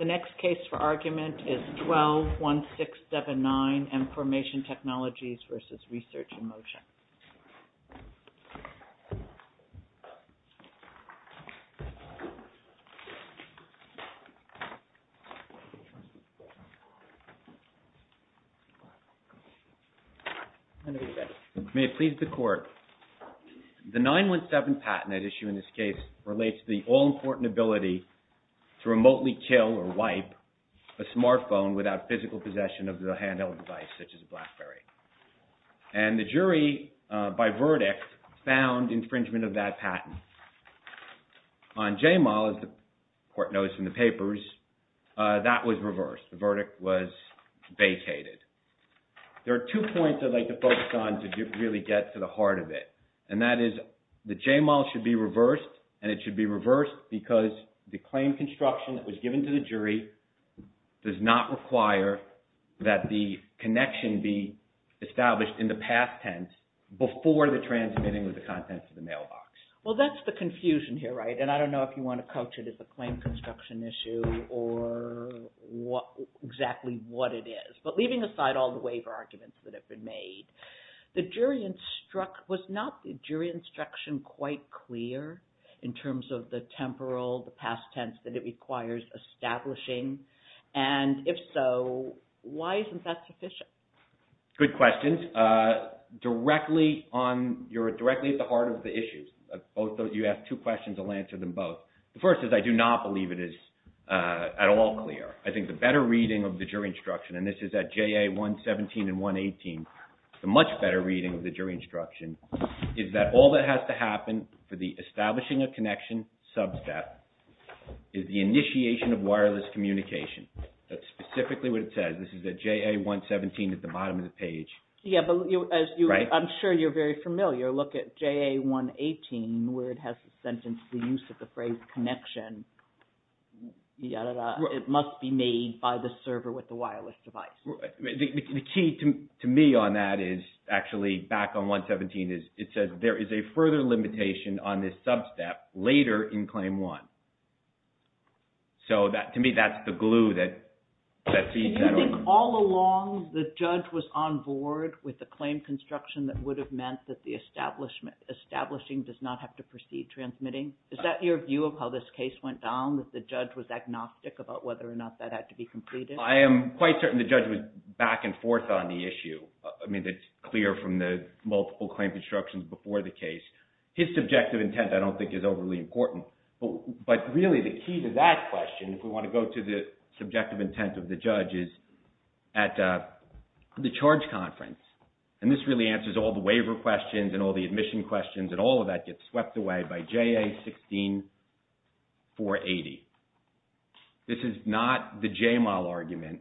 The next case for argument is 12-1679 Mformation Technologies v. Research in Motion. May it please the Court, the 9-1-7 patent at issue in this case relates to the all-important ability to remotely kill or wipe a smartphone without physical possession of the handheld device, such as a BlackBerry, and the jury, by verdict, found infringement of that patent. On JMAL, as the Court notes in the papers, that was reversed, the verdict was vacated. There are two points I'd like to focus on to really get to the heart of it, and that is that JMAL should be reversed, and it should be reversed because the claim construction that was given to the jury does not require that the connection be established in the past tense before the transmitting of the contents of the mailbox. Well, that's the confusion here, right? And I don't know if you want to coach it as a claim construction issue or exactly what it is. But leaving aside all the waiver arguments that have been made, was not the jury instruction quite clear in terms of the temporal, the past tense that it requires establishing? And if so, why isn't that sufficient? Good question. Directly on, you're directly at the heart of the issues. You asked two questions, I'll answer them both. The first is I do not believe it is at all clear. I think the better reading of the jury instruction, and this is at JA 117 and 118, the much better reading of the jury instruction, is that all that has to happen for the establishing a connection sub-step is the initiation of wireless communication. That's specifically what it says, this is at JA 117 at the bottom of the page. Yeah, but as I'm sure you're very familiar, look at JA 118 where it has the sentence, the use of the phrase connection, it must be made by the server with the wireless device. The key to me on that is actually back on 117, it says there is a further limitation on this sub-step later in claim one. So to me, that's the glue that feeds that on. Do you think all along the judge was on board with the claim construction that would have meant that the establishing does not have to proceed transmitting? Is that your view of how this case went down, that the judge was agnostic about whether or not that had to be completed? I am quite certain the judge was back and forth on the issue. I mean, it's clear from the multiple claim constructions before the case. His subjective intent, I don't think, is overly important. But really, the key to that question, if we want to go to the subjective intent of the judge, is at the charge conference. And this really answers all the waiver questions and all the admission questions, and all of that gets swept away by JA 16480. This is not the J-MAL argument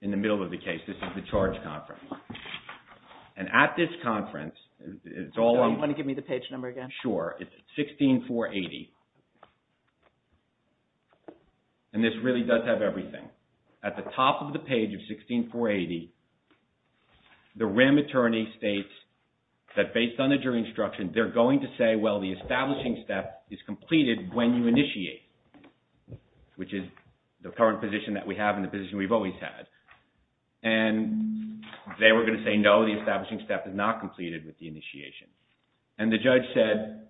in the middle of the case. This is the charge conference. And at this conference, it's all on... Do you want to give me the page number again? Sure. It's 16480. And this really does have everything. At the top of the page of 16480, the REM attorney states that based on the jury instruction, they're going to say, well, the establishing step is completed when you initiate, which is the current position that we have and the position we've always had. And they were going to say, no, the establishing step is not completed with the initiation. And the judge said,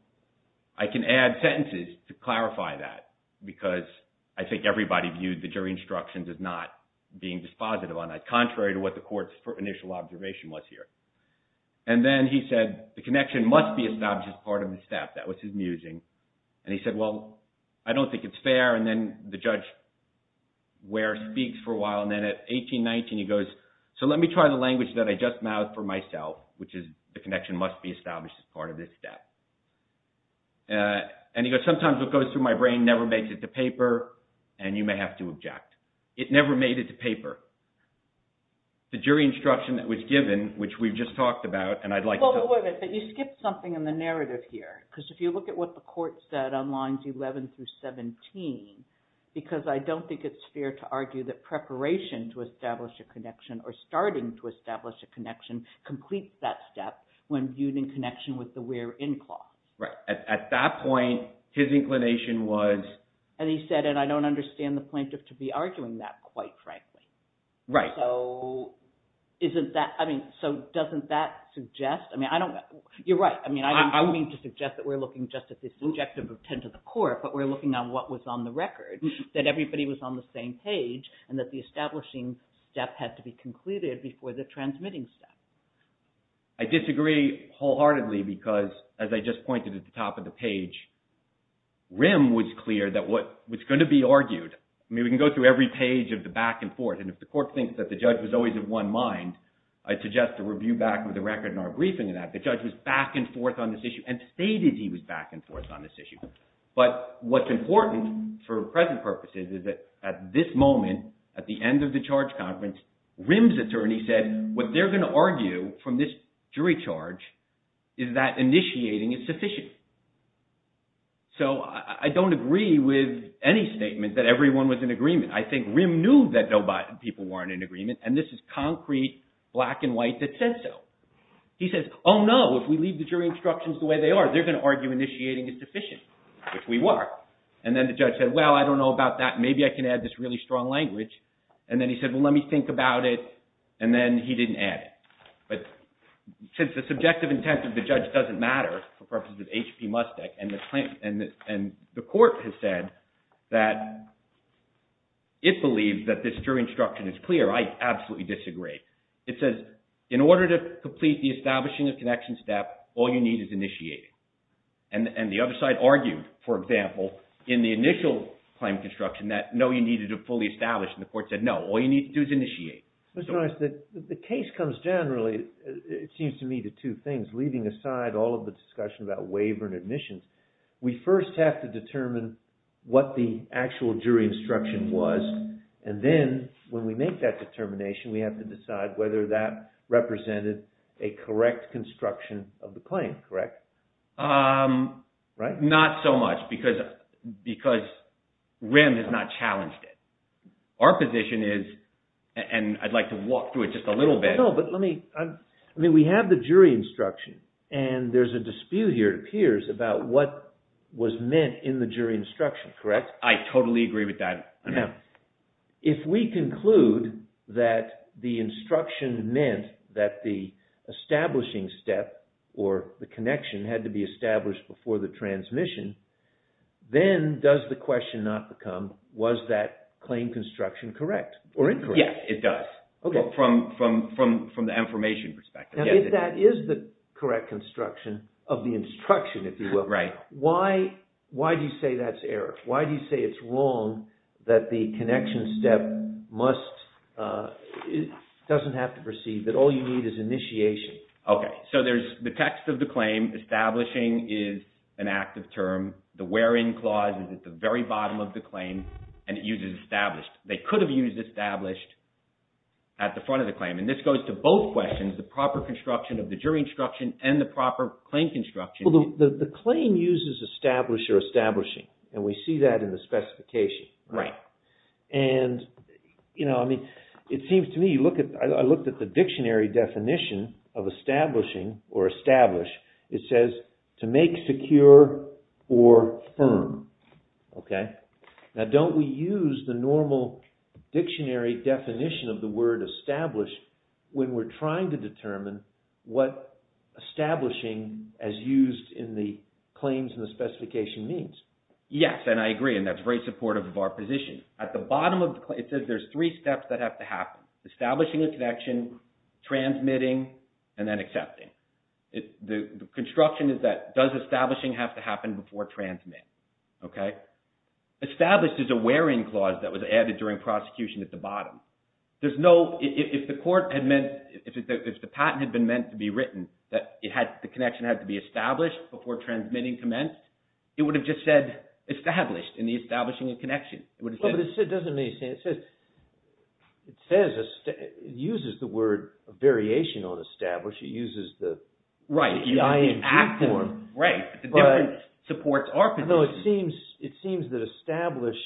I can add sentences to clarify that, because I think everybody viewed the jury instruction as not being dispositive, contrary to what the court's initial observation was here. And then he said, the connection must be established as part of the step. That was his musing. And he said, well, I don't think it's fair. And then the judge speaks for a while, and then at 1819, he goes, so let me try the language that I just mouthed for myself, which is, the connection must be established as part of this step. And he goes, sometimes what goes through my brain never makes it to paper, and you may have to object. It never made it to paper. The jury instruction that was given, which we've just talked about, and I'd like to tell you- Well, but wait a minute. But you skipped something in the narrative here. Because if you look at what the court said on lines 11 through 17, because I don't think it's fair to argue that preparation to establish a connection or starting to establish a connection completes that step when viewed in connection with the where in clause. Right. At that point, his inclination was- And he said, and I don't understand the plaintiff to be arguing that, quite frankly. Right. So isn't that- I mean, so doesn't that suggest- I mean, I don't- you're right. I mean, I don't mean to suggest that we're looking just at this injective of 10 to the court, but we're looking at what was on the record, that everybody was on the same page, and that the establishing step had to be concluded before the transmitting step. I disagree wholeheartedly, because as I just pointed at the top of the page, Rimm was clear that what's going to be argued- I mean, we can go through every page of the back and forth, and if the court thinks that the judge was always of one mind, I suggest a review back of the record in our briefing of that. The judge was back and forth on this issue, and stated he was back and forth on this issue. But what's important for present purposes is that at this moment, at the end of the charge conference, Rimm's attorney said what they're going to argue from this jury charge is that initiating is sufficient. So, I don't agree with any statement that everyone was in agreement. I think Rimm knew that people weren't in agreement, and this is concrete black and white that said so. He says, oh no, if we leave the jury instructions the way they are, they're going to argue initiating is sufficient, which we were. And then the judge said, well, I don't know about that. Maybe I can add this really strong language. And then he said, well, let me think about it, and then he didn't add it. But since the subjective intent of the judge doesn't matter for purposes of H.P. Mustick, and the court has said that it believes that this jury instruction is clear, I absolutely disagree. It says, in order to complete the establishing of connection step, all you need is initiating. And the other side argued, for example, in the initial claim construction that no, you needed to fully establish. And the court said, no, all you need to do is initiate. Mr. Norris, the case comes down, really, it seems to me, to two things, leaving aside all of the discussion about waiver and admissions. We first have to determine what the actual jury instruction was, and then when we make that determination, we have to decide whether that represented a correct construction of the claim, correct? Right? Not so much, because Rimm has not challenged it. Our position is, and I'd like to walk through it just a little bit. No, but let me, I mean, we have the jury instruction, and there's a dispute here, it appears, about what was meant in the jury instruction, correct? I totally agree with that. Now, if we conclude that the instruction meant that the establishing step, or the connection, had to be established before the transmission, then does the question not become, was that claim construction correct, or incorrect? Yes, it does, from the information perspective. Now, if that is the correct construction of the instruction, if you will, why do you say that's error? Why do you say it's wrong that the connection step must, it doesn't have to proceed, that all you need is initiation? Okay, so there's the text of the claim, establishing is an active term, the where-in clause is at the very bottom of the claim, and it uses established. They could have used established at the front of the claim, and this goes to both questions, the proper construction of the jury instruction, and the proper claim construction. The claim uses establish or establishing, and we see that in the specification, and, you know, I mean, it seems to me, you look at, I looked at the dictionary definition of establishing, or establish, it says, to make secure or firm, okay? Now, don't we use the normal dictionary definition of the word establish when we're trying to determine what establishing as used in the claims and the specification means? Yes, and I agree, and that's very supportive of our position. At the bottom of the claim, it says there's three steps that have to happen, establishing a connection, transmitting, and then accepting. The construction is that, does establishing have to happen before transmit, okay? Established is a where-in clause that was added during prosecution at the bottom. There's no, if the court had meant, if the patent had been meant to be written, that it had, the connection had to be established before transmitting commenced, it would have just said established in the establishing a connection. But it doesn't make sense, it says, it uses the word variation on establish, it uses the I and G form, but it seems that establish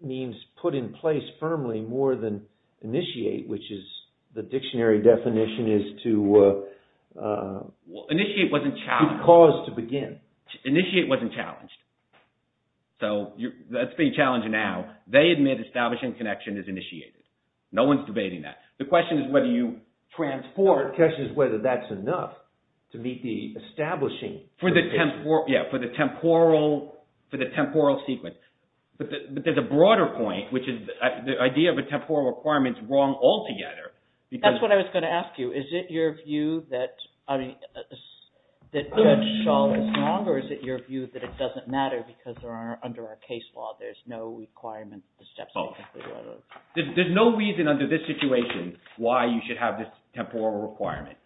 means put in place firmly more than initiate, which is, the dictionary definition is to cause to begin. Initiate wasn't challenged. So, that's pretty challenging now. They admit establishing connection is initiated. No one's debating that. The question is whether you transport, the question is whether that's enough to meet the establishing. For the temporal, yeah, for the temporal sequence, but there's a broader point, which is the idea of a temporal requirement's wrong altogether, because- That's what I was going to ask you, is it your view that, I mean, that that's wrong or is it your view that it doesn't matter because under our case law, there's no requirement for the steps to be taken? There's no reason under this situation why you should have this temporal requirement.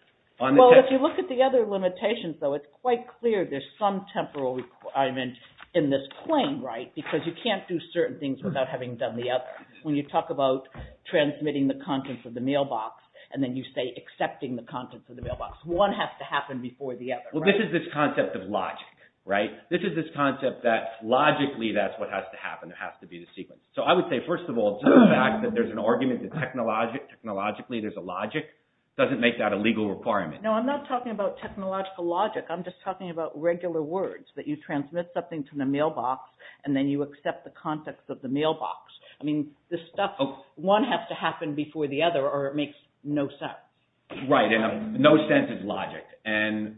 Well, if you look at the other limitations, though, it's quite clear there's some temporal requirement in this claim, right, because you can't do certain things without having done the other. When you talk about transmitting the contents of the mailbox, and then you say accepting the contents of the mailbox, one has to happen before the other, right? Well, this is this concept of logic, right? This is this concept that logically that's what has to happen, it has to be the sequence. So I would say, first of all, the fact that there's an argument that technologically there's a logic doesn't make that a legal requirement. No, I'm not talking about technological logic, I'm just talking about regular words, that you transmit something to the mailbox and then you accept the contents of the mailbox. I mean, this stuff, one has to happen before the other or it makes no sense. Right, and no sense is logic, and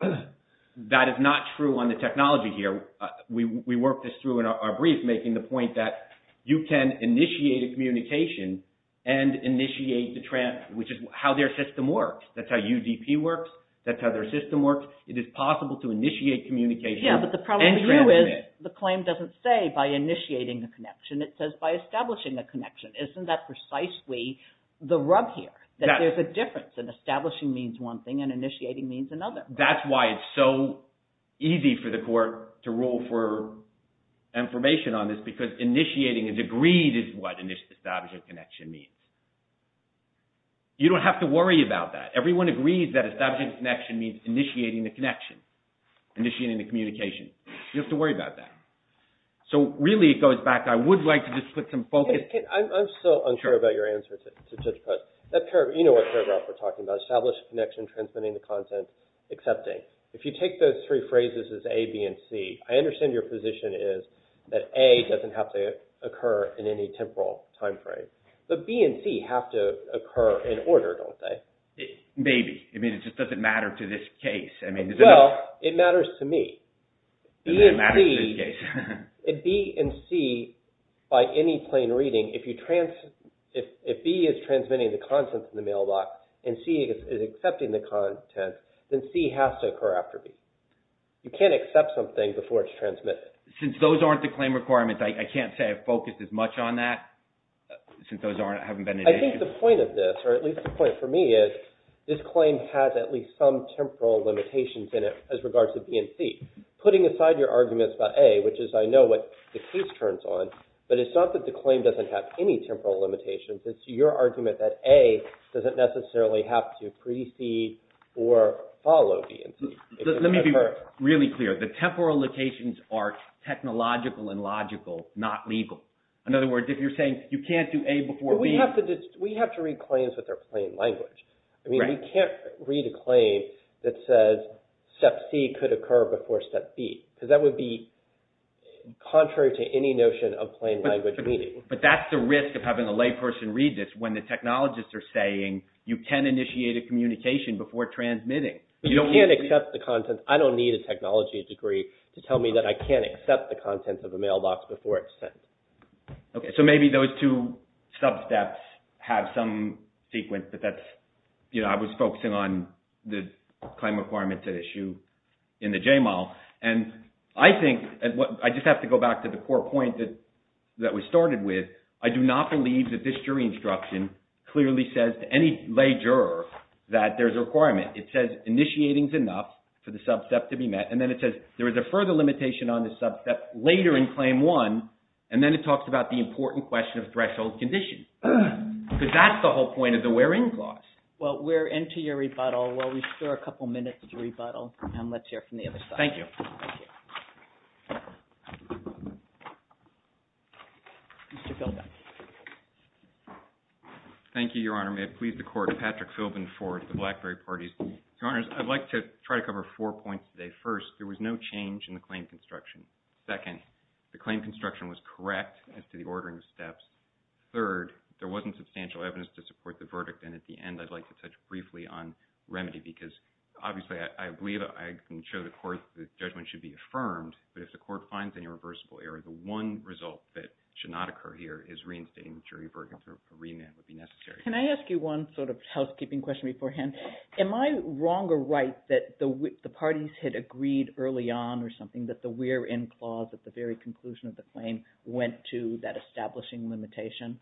that is not true on the technology here. We worked this through in our brief, making the point that you can initiate a communication and initiate the transmit, which is how their system works. That's how UDP works, that's how their system works, it is possible to initiate communication and transmit. Yeah, but the problem with you is the claim doesn't say by initiating the connection, it says by establishing a connection. Isn't that precisely the rub here, that there's a difference, that establishing means one thing and initiating means another thing. That's why it's so easy for the court to rule for information on this, because initiating is agreed is what establishing a connection means. You don't have to worry about that. Everyone agrees that establishing a connection means initiating the connection, initiating the communication. You don't have to worry about that. So really it goes back, I would like to just put some focus. I'm so unsure about your answer to Judge Post. You know what paragraph we're talking about, establish a connection, transmitting the content, accepting. If you take those three phrases as A, B, and C, I understand your position is that A doesn't have to occur in any temporal time frame, but B and C have to occur in order, don't they? Maybe. I mean, it just doesn't matter to this case. Well, it matters to me. It matters to this case. B and C, by any plain reading, if B is transmitting the content in the mailbox and C is accepting the content, then C has to occur after B. You can't accept something before it's transmitted. Since those aren't the claim requirements, I can't say I've focused as much on that, since those haven't been initiated. I think the point of this, or at least the point for me is, this claim has at least some temporal limitations in it as regards to B and C. Putting aside your arguments about A, which is, I know, what the case turns on, but it's not that the claim doesn't have any temporal limitations, it's your argument that A doesn't necessarily have to precede or follow B and C. Let me be really clear. The temporal locations are technological and logical, not legal. In other words, if you're saying you can't do A before B... We have to read claims with their plain language. We can't read a claim that says step C could occur before step B, because that would be contrary to any notion of plain language reading. But that's the risk of having a layperson read this, when the technologists are saying you can initiate a communication before transmitting. But you can't accept the content. I don't need a technology degree to tell me that I can't accept the content of a mailbox before it's sent. Okay, so maybe those two sub-steps have some sequence, but that's... I was focusing on the claim requirements at issue in the JMAL. And I think, I just have to go back to the core point that we started with. I do not believe that this jury instruction clearly says to any lay juror that there's a requirement. It says initiating's enough for the sub-step to be met, and then it says there is a further limitation on the sub-step later in Claim 1, and then it talks about the important question of threshold conditions. Because that's the whole point of the wear-in clause. Well, we're into your rebuttal. We'll restore a couple minutes of your rebuttal, and let's hear from the other side. Thank you. Thank you. Mr. Philbin. Thank you, Your Honor. May it please the Court, Patrick Philbin for the BlackBerry Parties. Your Honors, I'd like to try to cover four points today. First, there was no change in the claim construction. Second, the claim construction was correct as to the ordering of steps. Third, there wasn't substantial evidence to support the verdict, and at the end, I'd like to touch briefly on remedy, because obviously, I believe I can show the Court that the judgment should be affirmed, but if the Court finds any reversible error, the one result that should not occur here is reinstating the jury verdict, and a remand would be necessary. Can I ask you one sort of housekeeping question beforehand? Am I wrong or right that the parties had agreed early on or something that the where-in clause at the very conclusion of the claim went to that establishing limitation?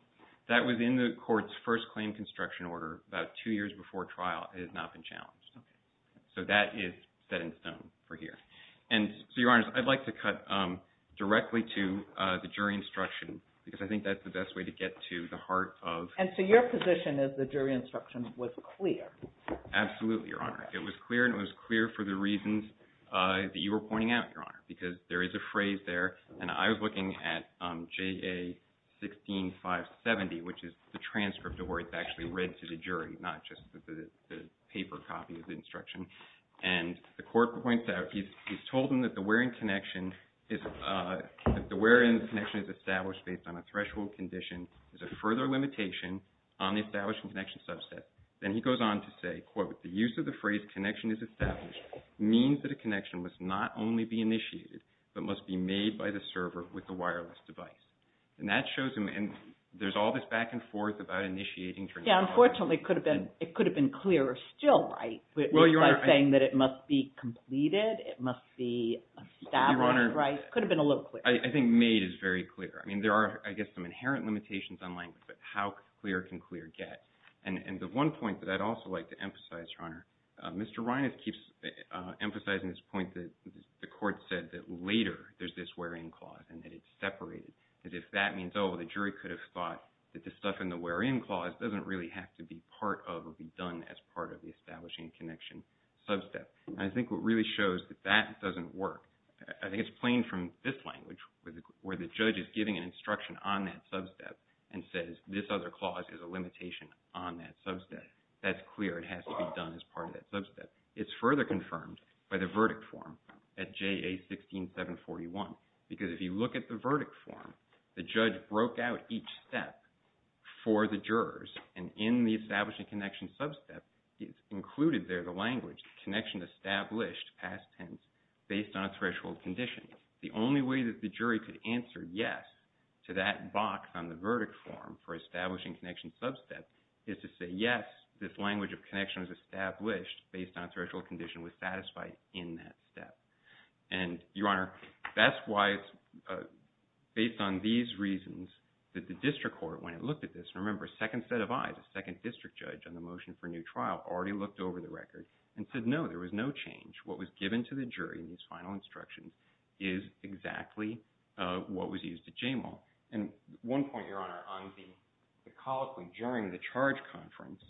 That was in the Court's first claim construction order about two years before trial. It has not been challenged. So that is set in stone for here. And so, Your Honors, I'd like to cut directly to the jury instruction, because I think that's the best way to get to the heart of... And so, your position is the jury instruction was clear. Absolutely, Your Honor. It was clear, and it was clear for the reasons that you were pointing out, Your Honor, because there is a phrase there, and I was looking at JA 16570, which is the transcript of where it's actually read to the jury, not just the paper copy of the instruction, and the Court points out, he's told them that the where-in connection is established based on a threshold condition as a further limitation on the established connection subset, then he goes on to say, quote, the use of the phrase connection is established means that a connection must not only be initiated, but must be made by the server with the wireless device. And that shows him... And there's all this back and forth about initiating... Yeah, unfortunately, it could have been clearer still, right? Well, Your Honor... Instead of saying that it must be completed, it must be established, right, it could have been a little clearer. I think made is very clear. I mean, there are, I guess, some inherent limitations on language, but how clear can clear get? And the one point that I'd also like to emphasize, Your Honor, Mr. Reines keeps emphasizing this point that the Court said that later there's this where-in clause, and that it's separated, that if that means, oh, the jury could have thought that the stuff in the where-in clause doesn't really have to be part of or be done as part of the establishing connection subset. And I think what really shows that that doesn't work, I think it's playing from this language, where the judge is giving an instruction on that subset and says, this other clause is a limitation on that subset. That's clear, it has to be done as part of that subset. It's further confirmed by the verdict form at JA-16-741, because if you look at the verdict form, the judge broke out each step for the jurors, and in the establishing connection subset, it's included there, the language, connection established, past tense, based on a threshold condition. The only way that the jury could answer yes to that box on the verdict form for establishing connection subset is to say yes, this language of connection is established based on a threshold condition was satisfied in that step. And Your Honor, that's why it's based on these reasons that the district court, when it looked at this, and remember, a second set of eyes, a second district judge on the motion for new trial already looked over the record and said, no, there was no change. What was given to the jury in this final instruction is exactly what was used at J-Mall. And one point, Your Honor, on the colloquy during the charge conference,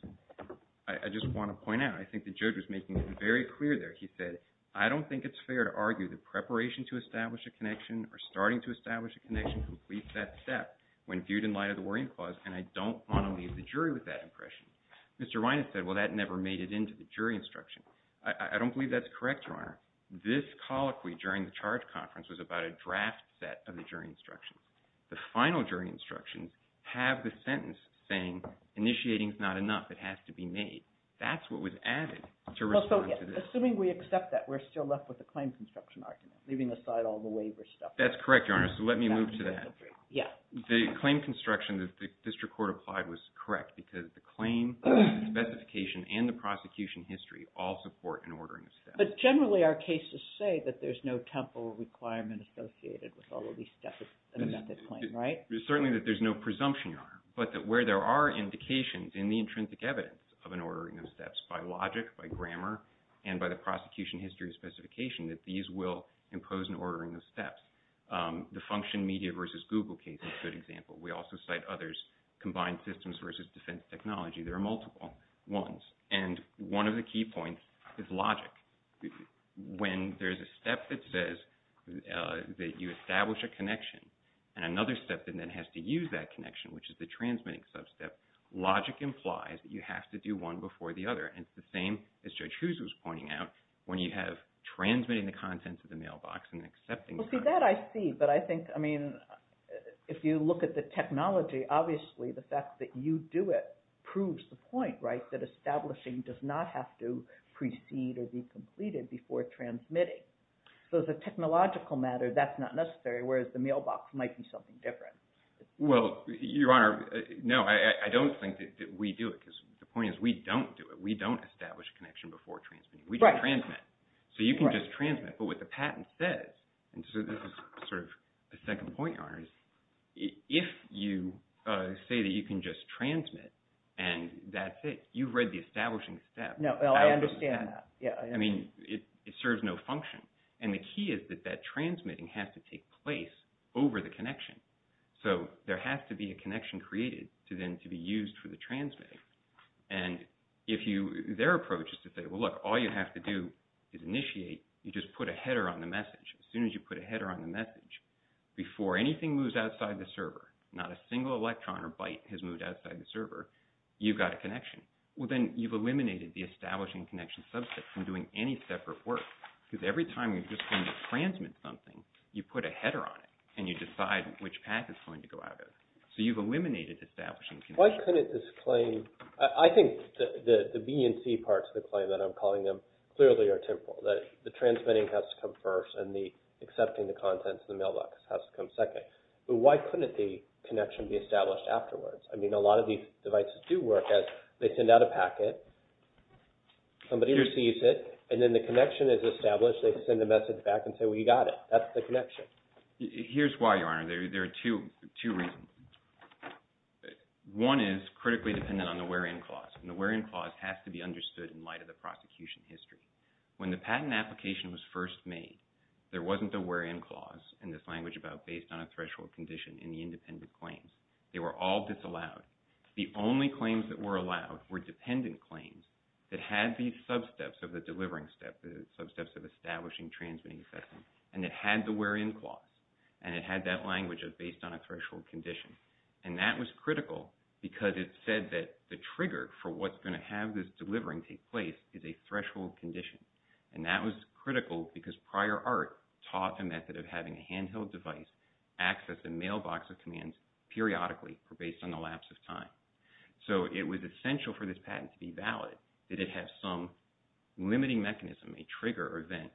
I just want to point out, I think the judge was making it very clear there. He said, I don't think it's fair to argue that preparation to establish a connection or starting to establish a connection completes that step when viewed in light of the Warrant Clause, and I don't want to leave the jury with that impression. Mr. Reines said, well, that never made it into the jury instruction. I don't believe that's correct, Your Honor. This colloquy during the charge conference was about a draft set of the jury instructions. The final jury instructions have the sentence saying, initiating is not enough, it has to be made. That's what was added to respond to this. So, assuming we accept that, we're still left with a claim construction argument, leaving aside all the waiver stuff. That's correct, Your Honor. So let me move to that. Yeah. The claim construction that the district court applied was correct because the claim, the prosecution history all support an ordering of steps. But generally our cases say that there's no temporal requirement associated with all of these steps in a method claim, right? Certainly that there's no presumption, Your Honor, but that where there are indications in the intrinsic evidence of an ordering of steps by logic, by grammar, and by the prosecution history specification, that these will impose an ordering of steps. The function media versus Google case is a good example. We also cite others, combined systems versus defense technology. There are multiple ones. And one of the key points is logic. When there's a step that says that you establish a connection, and another step that then has to use that connection, which is the transmitting sub-step, logic implies that you have to do one before the other. And it's the same, as Judge Hughes was pointing out, when you have transmitting the content to the mailbox and accepting the content. Well, see, that I see. But I think, I mean, if you look at the technology, obviously the fact that you do it proves the point, right? That establishing does not have to precede or be completed before transmitting. So as a technological matter, that's not necessary, whereas the mailbox might be something different. Well, Your Honor, no, I don't think that we do it, because the point is we don't do it. We don't establish a connection before transmitting. We just transmit. So you can just transmit. But what the patent says, and so this is sort of the second point, Your Honor, is if you say that you can just transmit, and that's it, you've read the establishing step. No, I understand that. Yeah, I understand. I mean, it serves no function. And the key is that that transmitting has to take place over the connection. So there has to be a connection created to then to be used for the transmitting. And if you, their approach is to say, well, look, all you have to do is initiate. You just put a header on the message. As soon as you put a header on the message, before anything moves outside the server, not a single electron or byte has moved outside the server, you've got a connection. Well, then you've eliminated the establishing connection subset from doing any separate work. Because every time you're just going to transmit something, you put a header on it, and you decide which path it's going to go out of. So you've eliminated establishing connection. Why couldn't this claim, I think the B and C parts of the claim that I'm calling them clearly are temporal. That the transmitting has to come first, and the accepting the contents of the mailbox has to come second. But why couldn't the connection be established afterwards? I mean, a lot of these devices do work as they send out a packet, somebody receives it, and then the connection is established, they send a message back and say, well, you got it. That's the connection. Here's why, Your Honor. There are two reasons. One is critically dependent on the wear-in clause. And the wear-in clause has to be understood in light of the prosecution history. When the patent application was first made, there wasn't a wear-in clause in this language about based on a threshold condition in the independent claims. They were all disallowed. The only claims that were allowed were dependent claims that had these sub-steps of the delivering step, the sub-steps of establishing, transmitting, accepting. And it had the wear-in clause, and it had that language of based on a threshold condition. And that was critical because it said that the trigger for what's going to have this And that was critical because prior art taught a method of having a handheld device access a mailbox of commands periodically based on the lapse of time. So it was essential for this patent to be valid, that it have some limiting mechanism, a trigger event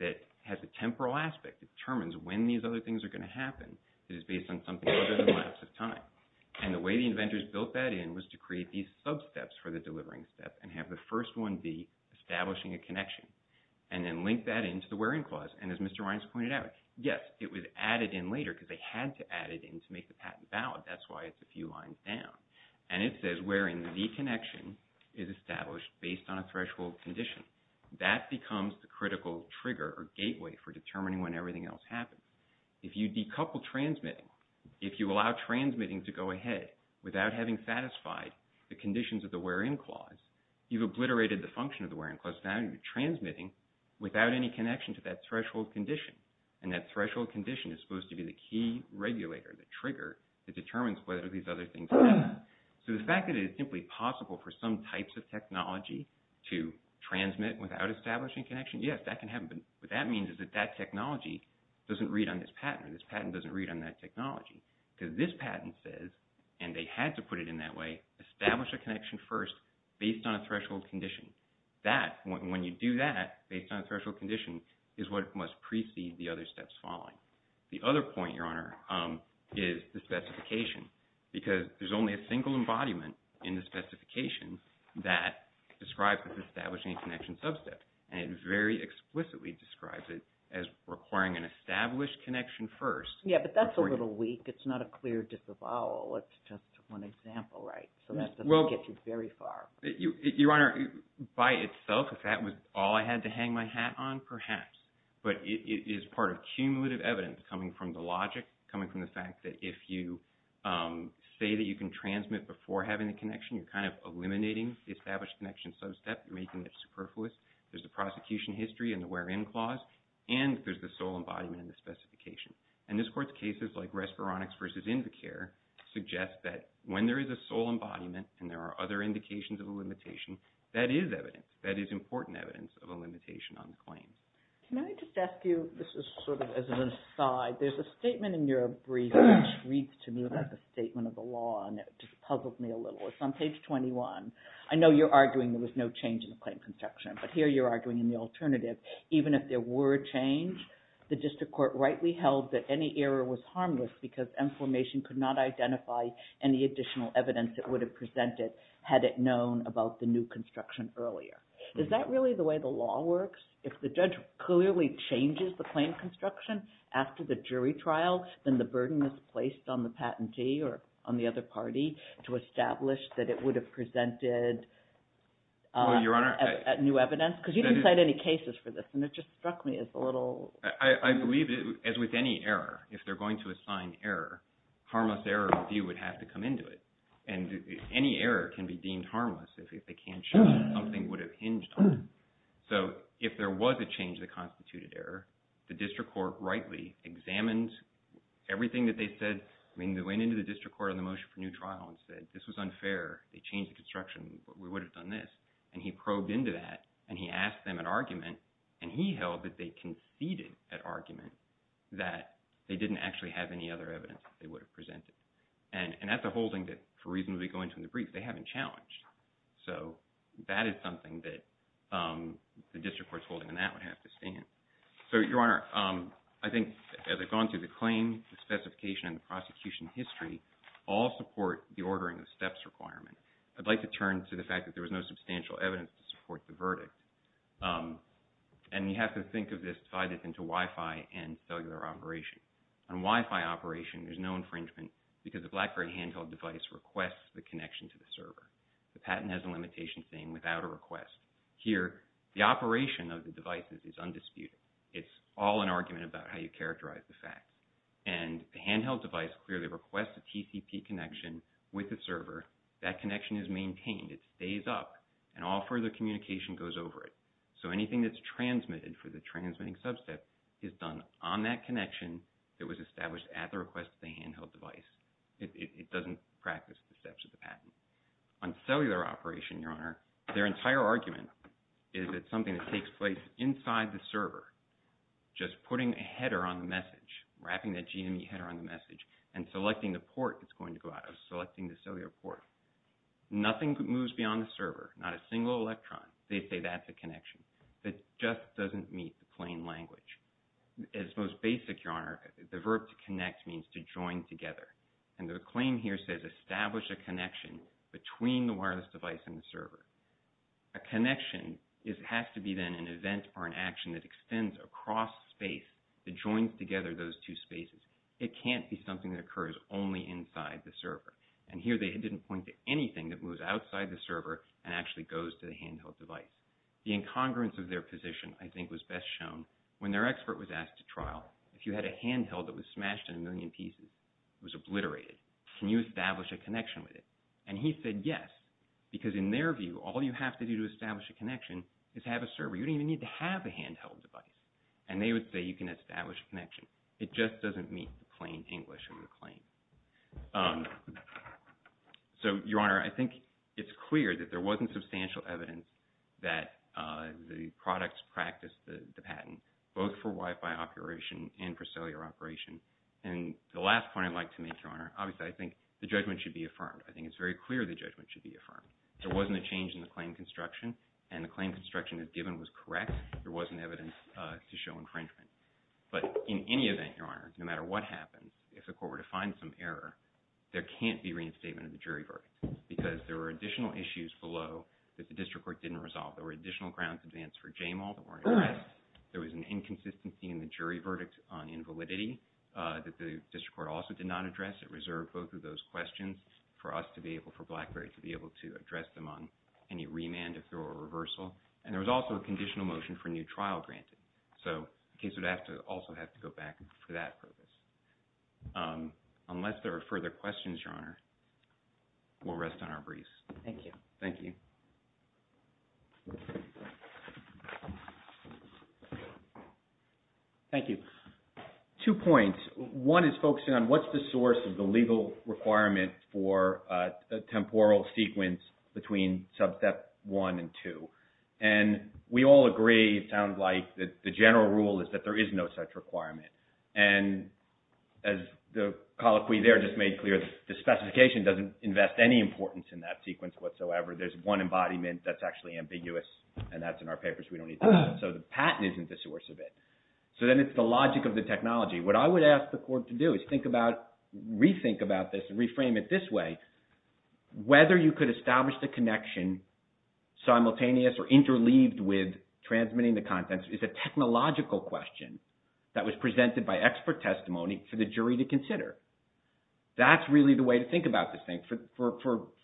that has a temporal aspect that determines when these other things are going to happen that is based on something other than the lapse of time. And the way the inventors built that in was to create these sub-steps for the delivering step and have the first one be establishing a connection and then link that into the wear-in clause. And as Mr. Reines pointed out, yes, it was added in later because they had to add it in to make the patent valid. That's why it's a few lines down. And it says where in the connection is established based on a threshold condition. That becomes the critical trigger or gateway for determining when everything else happens. If you decouple transmitting, if you allow transmitting to go ahead without having satisfied the conditions of the wear-in clause, you've obliterated the function of the wear-in clause. Now you're transmitting without any connection to that threshold condition. And that threshold condition is supposed to be the key regulator, the trigger that determines whether these other things are happening. So the fact that it is simply possible for some types of technology to transmit without establishing connection, yes, that can happen. But what that means is that that technology doesn't read on this patent or this patent doesn't read on that technology. Because this patent says, and they had to put it in that way, establish a connection first based on a threshold condition. When you do that based on a threshold condition is what must precede the other steps following. The other point, Your Honor, is the specification. Because there's only a single embodiment in the specification that describes establishing a connection sub-step. And it very explicitly describes it as requiring an established connection first. Yeah, but that's a little weak. It's not a clear disavowal. It's just one example, right? So that doesn't get you very far. Your Honor, by itself, if that was all I had to hang my hat on, perhaps. But it is part of cumulative evidence coming from the logic, coming from the fact that if you say that you can transmit before having a connection, you're kind of eliminating the established connection sub-step. You're making it superfluous. There's a prosecution history in the wear-in clause. And there's the sole embodiment in the specification. And this Court's cases, like Respironics v. Invicare, suggest that when there is a sole embodiment and there are other indications of a limitation, that is evidence. That is important evidence of a limitation on the claim. Can I just ask you, this is sort of as an aside, there's a statement in your brief which reads to me like a statement of the law, and it just puzzles me a little. It's on page 21. I know you're arguing there was no change in the claim construction, but here you're arguing in the alternative. Even if there were a change, the District Court rightly held that any error was harmless because information could not identify any additional evidence that would have presented had it known about the new construction earlier. Is that really the way the law works? If the judge clearly changes the claim construction after the jury trial, then the burden is placed on the patentee or on the other party to establish that it would have presented new evidence? Yes, because you didn't cite any cases for this, and it just struck me as a little... I believe, as with any error, if they're going to assign error, harmless error review would have to come into it, and any error can be deemed harmless if they can't show something would have hinged on it. So if there was a change to the constituted error, the District Court rightly examined everything that they said. I mean, they went into the District Court on the motion for new trial and said, this was unfair. They changed the construction. We would have done this. And he probed into that, and he asked them an argument, and he held that they conceded an argument that they didn't actually have any other evidence that they would have presented. And that's a holding that, for reasons we go into in the brief, they haven't challenged. So that is something that the District Court's holding on that would have to stand. So, Your Honor, I think, as I've gone through the claim, the specification, and the prosecution history, all support the ordering of the steps requirement. I'd like to turn to the fact that there was no substantial evidence to support the verdict. And you have to think of this, divide this into Wi-Fi and cellular operation. On Wi-Fi operation, there's no infringement because the Blackberry handheld device requests the connection to the server. The patent has a limitation saying without a request. Here, the operation of the devices is undisputed. It's all an argument about how you characterize the fact. And the handheld device clearly requests a TCP connection with the server. That connection is maintained. It stays up. And all further communication goes over it. So anything that's transmitted for the transmitting sub-step is done on that connection that was established at the request of the handheld device. It doesn't practice the steps of the patent. On cellular operation, Your Honor, their entire argument is it's something that takes place inside the server. Just putting a header on the message, wrapping that GME header on the message, and selecting the port it's going to go out of, selecting the cellular port. Nothing moves beyond the server. Not a single electron. They say that's a connection. It just doesn't meet the plain language. It's most basic, Your Honor. The verb to connect means to join together. And the claim here says establish a connection between the wireless device and the server. A connection has to be then an event or an action that extends across space that joins together those two spaces. It can't be something that occurs only inside the server. And here they didn't point to anything that moves outside the server and actually goes to the handheld device. The incongruence of their position, I think, was best shown when their expert was asked to trial, if you had a handheld that was smashed in a million pieces, it was obliterated, can you establish a connection with it? And he said yes, because in their view, all you have to do to establish a connection is have a server. You don't even need to have a handheld device. And they would say you can establish a connection. It just doesn't meet the plain English of the claim. So Your Honor, I think it's clear that there wasn't substantial evidence that the products practiced the patent, both for Wi-Fi operation and for cellular operation. And the last point I'd like to make, Your Honor, obviously, I think the judgment should be affirmed. I think it's very clear the judgment should be affirmed. There wasn't a change in the claim construction, and the claim construction as given was correct. There wasn't evidence to show infringement. But in any event, Your Honor, no matter what happens, if the court were to find some error, there can't be reinstatement of the jury verdict, because there were additional issues below that the district court didn't resolve. There were additional grounds in advance for JAMAL that weren't addressed. There was an inconsistency in the jury verdict on invalidity that the district court also did not address. It reserved both of those questions for us to be able, for BlackBerry to be able to address them on any remand if there were a reversal, and there was also a conditional motion for new trial granted. So the case would also have to go back for that purpose. Unless there are further questions, Your Honor, we'll rest on our breeze. Thank you. Thank you. Thank you. Two points. One is focusing on what's the source of the legal requirement for a temporal sequence between sub-step one and two. And we all agree, it sounds like, that the general rule is that there is no such requirement. And as the colloquy there just made clear, the specification doesn't invest any importance in that sequence whatsoever. There's one embodiment that's actually ambiguous, and that's in our papers. We don't need that. So the patent isn't the source of it. So then it's the logic of the technology. What I would ask the court to do is rethink about this and reframe it this way. Whether you could establish the connection simultaneous or interleaved with transmitting the contents is a technological question that was presented by expert testimony for the jury to consider. That's really the way to think about this thing. For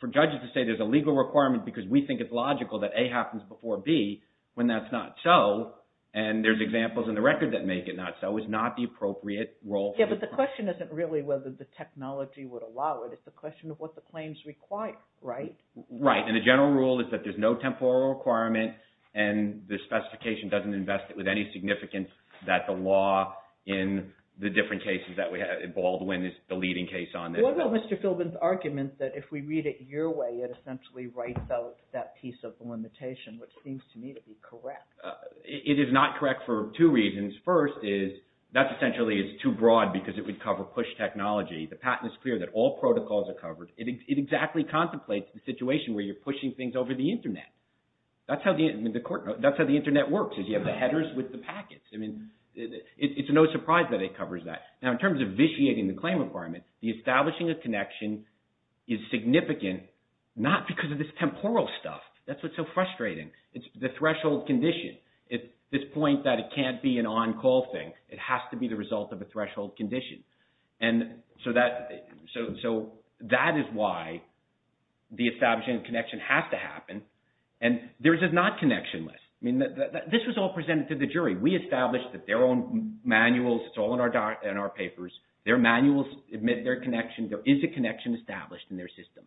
judges to say there's a legal requirement because we think it's logical that A happens before B when that's not so, and there's examples in the record that make it not so, is not the appropriate role. Yeah, but the question isn't really whether the technology would allow it. It's a question of what the claims require, right? Right. And the general rule is that there's no temporal requirement, and the specification doesn't invest it with any significance that the law in the different cases that we have in Baldwin is the leading case on this. What about Mr. Philbin's argument that if we read it your way, it essentially writes out that piece of the limitation, which seems to me to be correct? It is not correct for two reasons. First is that essentially is too broad because it would cover push technology. The patent is clear that all protocols are covered. It exactly contemplates the situation where you're pushing things over the Internet. That's how the Internet works is you have the headers with the packets. I mean, it's no surprise that it covers that. Now, in terms of vitiating the claim requirement, the establishing of connection is significant not because of this temporal stuff. That's what's so frustrating. It's the threshold condition. It's this point that it can't be an on-call thing. It has to be the result of a threshold condition. And so that is why the establishing of connection has to happen. And there's a not connection list. I mean, this was all presented to the jury. We established that their own manuals, it's all in our papers. Their manuals admit their connection. There is a connection established in their system.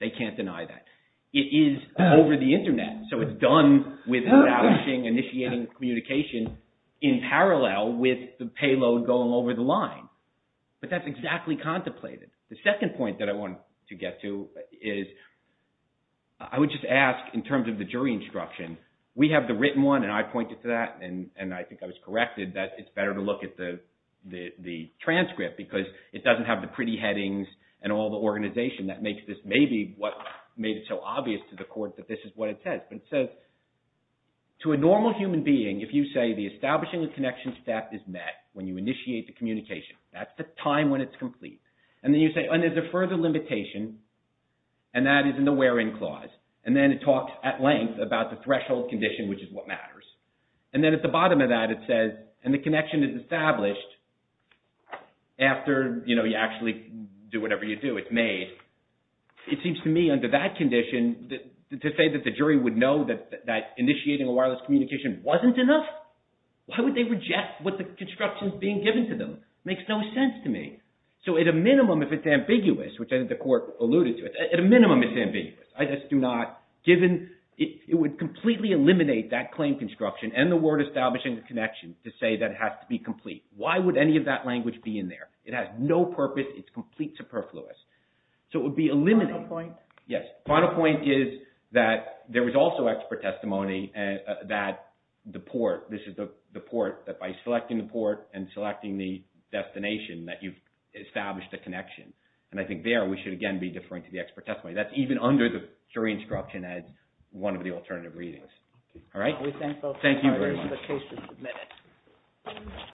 They can't deny that. It is over the Internet. So it's done with establishing, initiating communication in parallel with the payload going over the line. But that's exactly contemplated. The second point that I wanted to get to is I would just ask in terms of the jury instruction. We have the written one and I pointed to that and I think I was corrected that it's better to look at the transcript because it doesn't have the pretty headings and all the organization that makes this maybe what made it so obvious to the court that this is what it says. But it says, to a normal human being, if you say the establishing of connection step is met when you initiate the communication. That's the time when it's complete. And then you say, and there's a further limitation and that is in the where in clause. And then it talks at length about the threshold condition, which is what matters. And then at the bottom of that it says, and the connection is established after you actually do whatever you do, it's made. It seems to me under that condition, to say that the jury would know that initiating a wireless communication wasn't enough. Why would they reject what the construction is being given to them? It makes no sense to me. So at a minimum, if it's ambiguous, which I think the court alluded to, at a minimum it's ambiguous. I just do not, given, it would completely eliminate that claim construction and the word establishing a connection to say that it has to be complete. Why would any of that language be in there? It has no purpose. It's complete superfluous. So it would be eliminated. The final point is that there was also expert testimony that the port, this is the port, that by selecting the port and selecting the destination that you've established a connection. And I think there we should again be deferring to the expert testimony. That's even under the jury instruction as one of the alternative readings. All right. Thank you very much.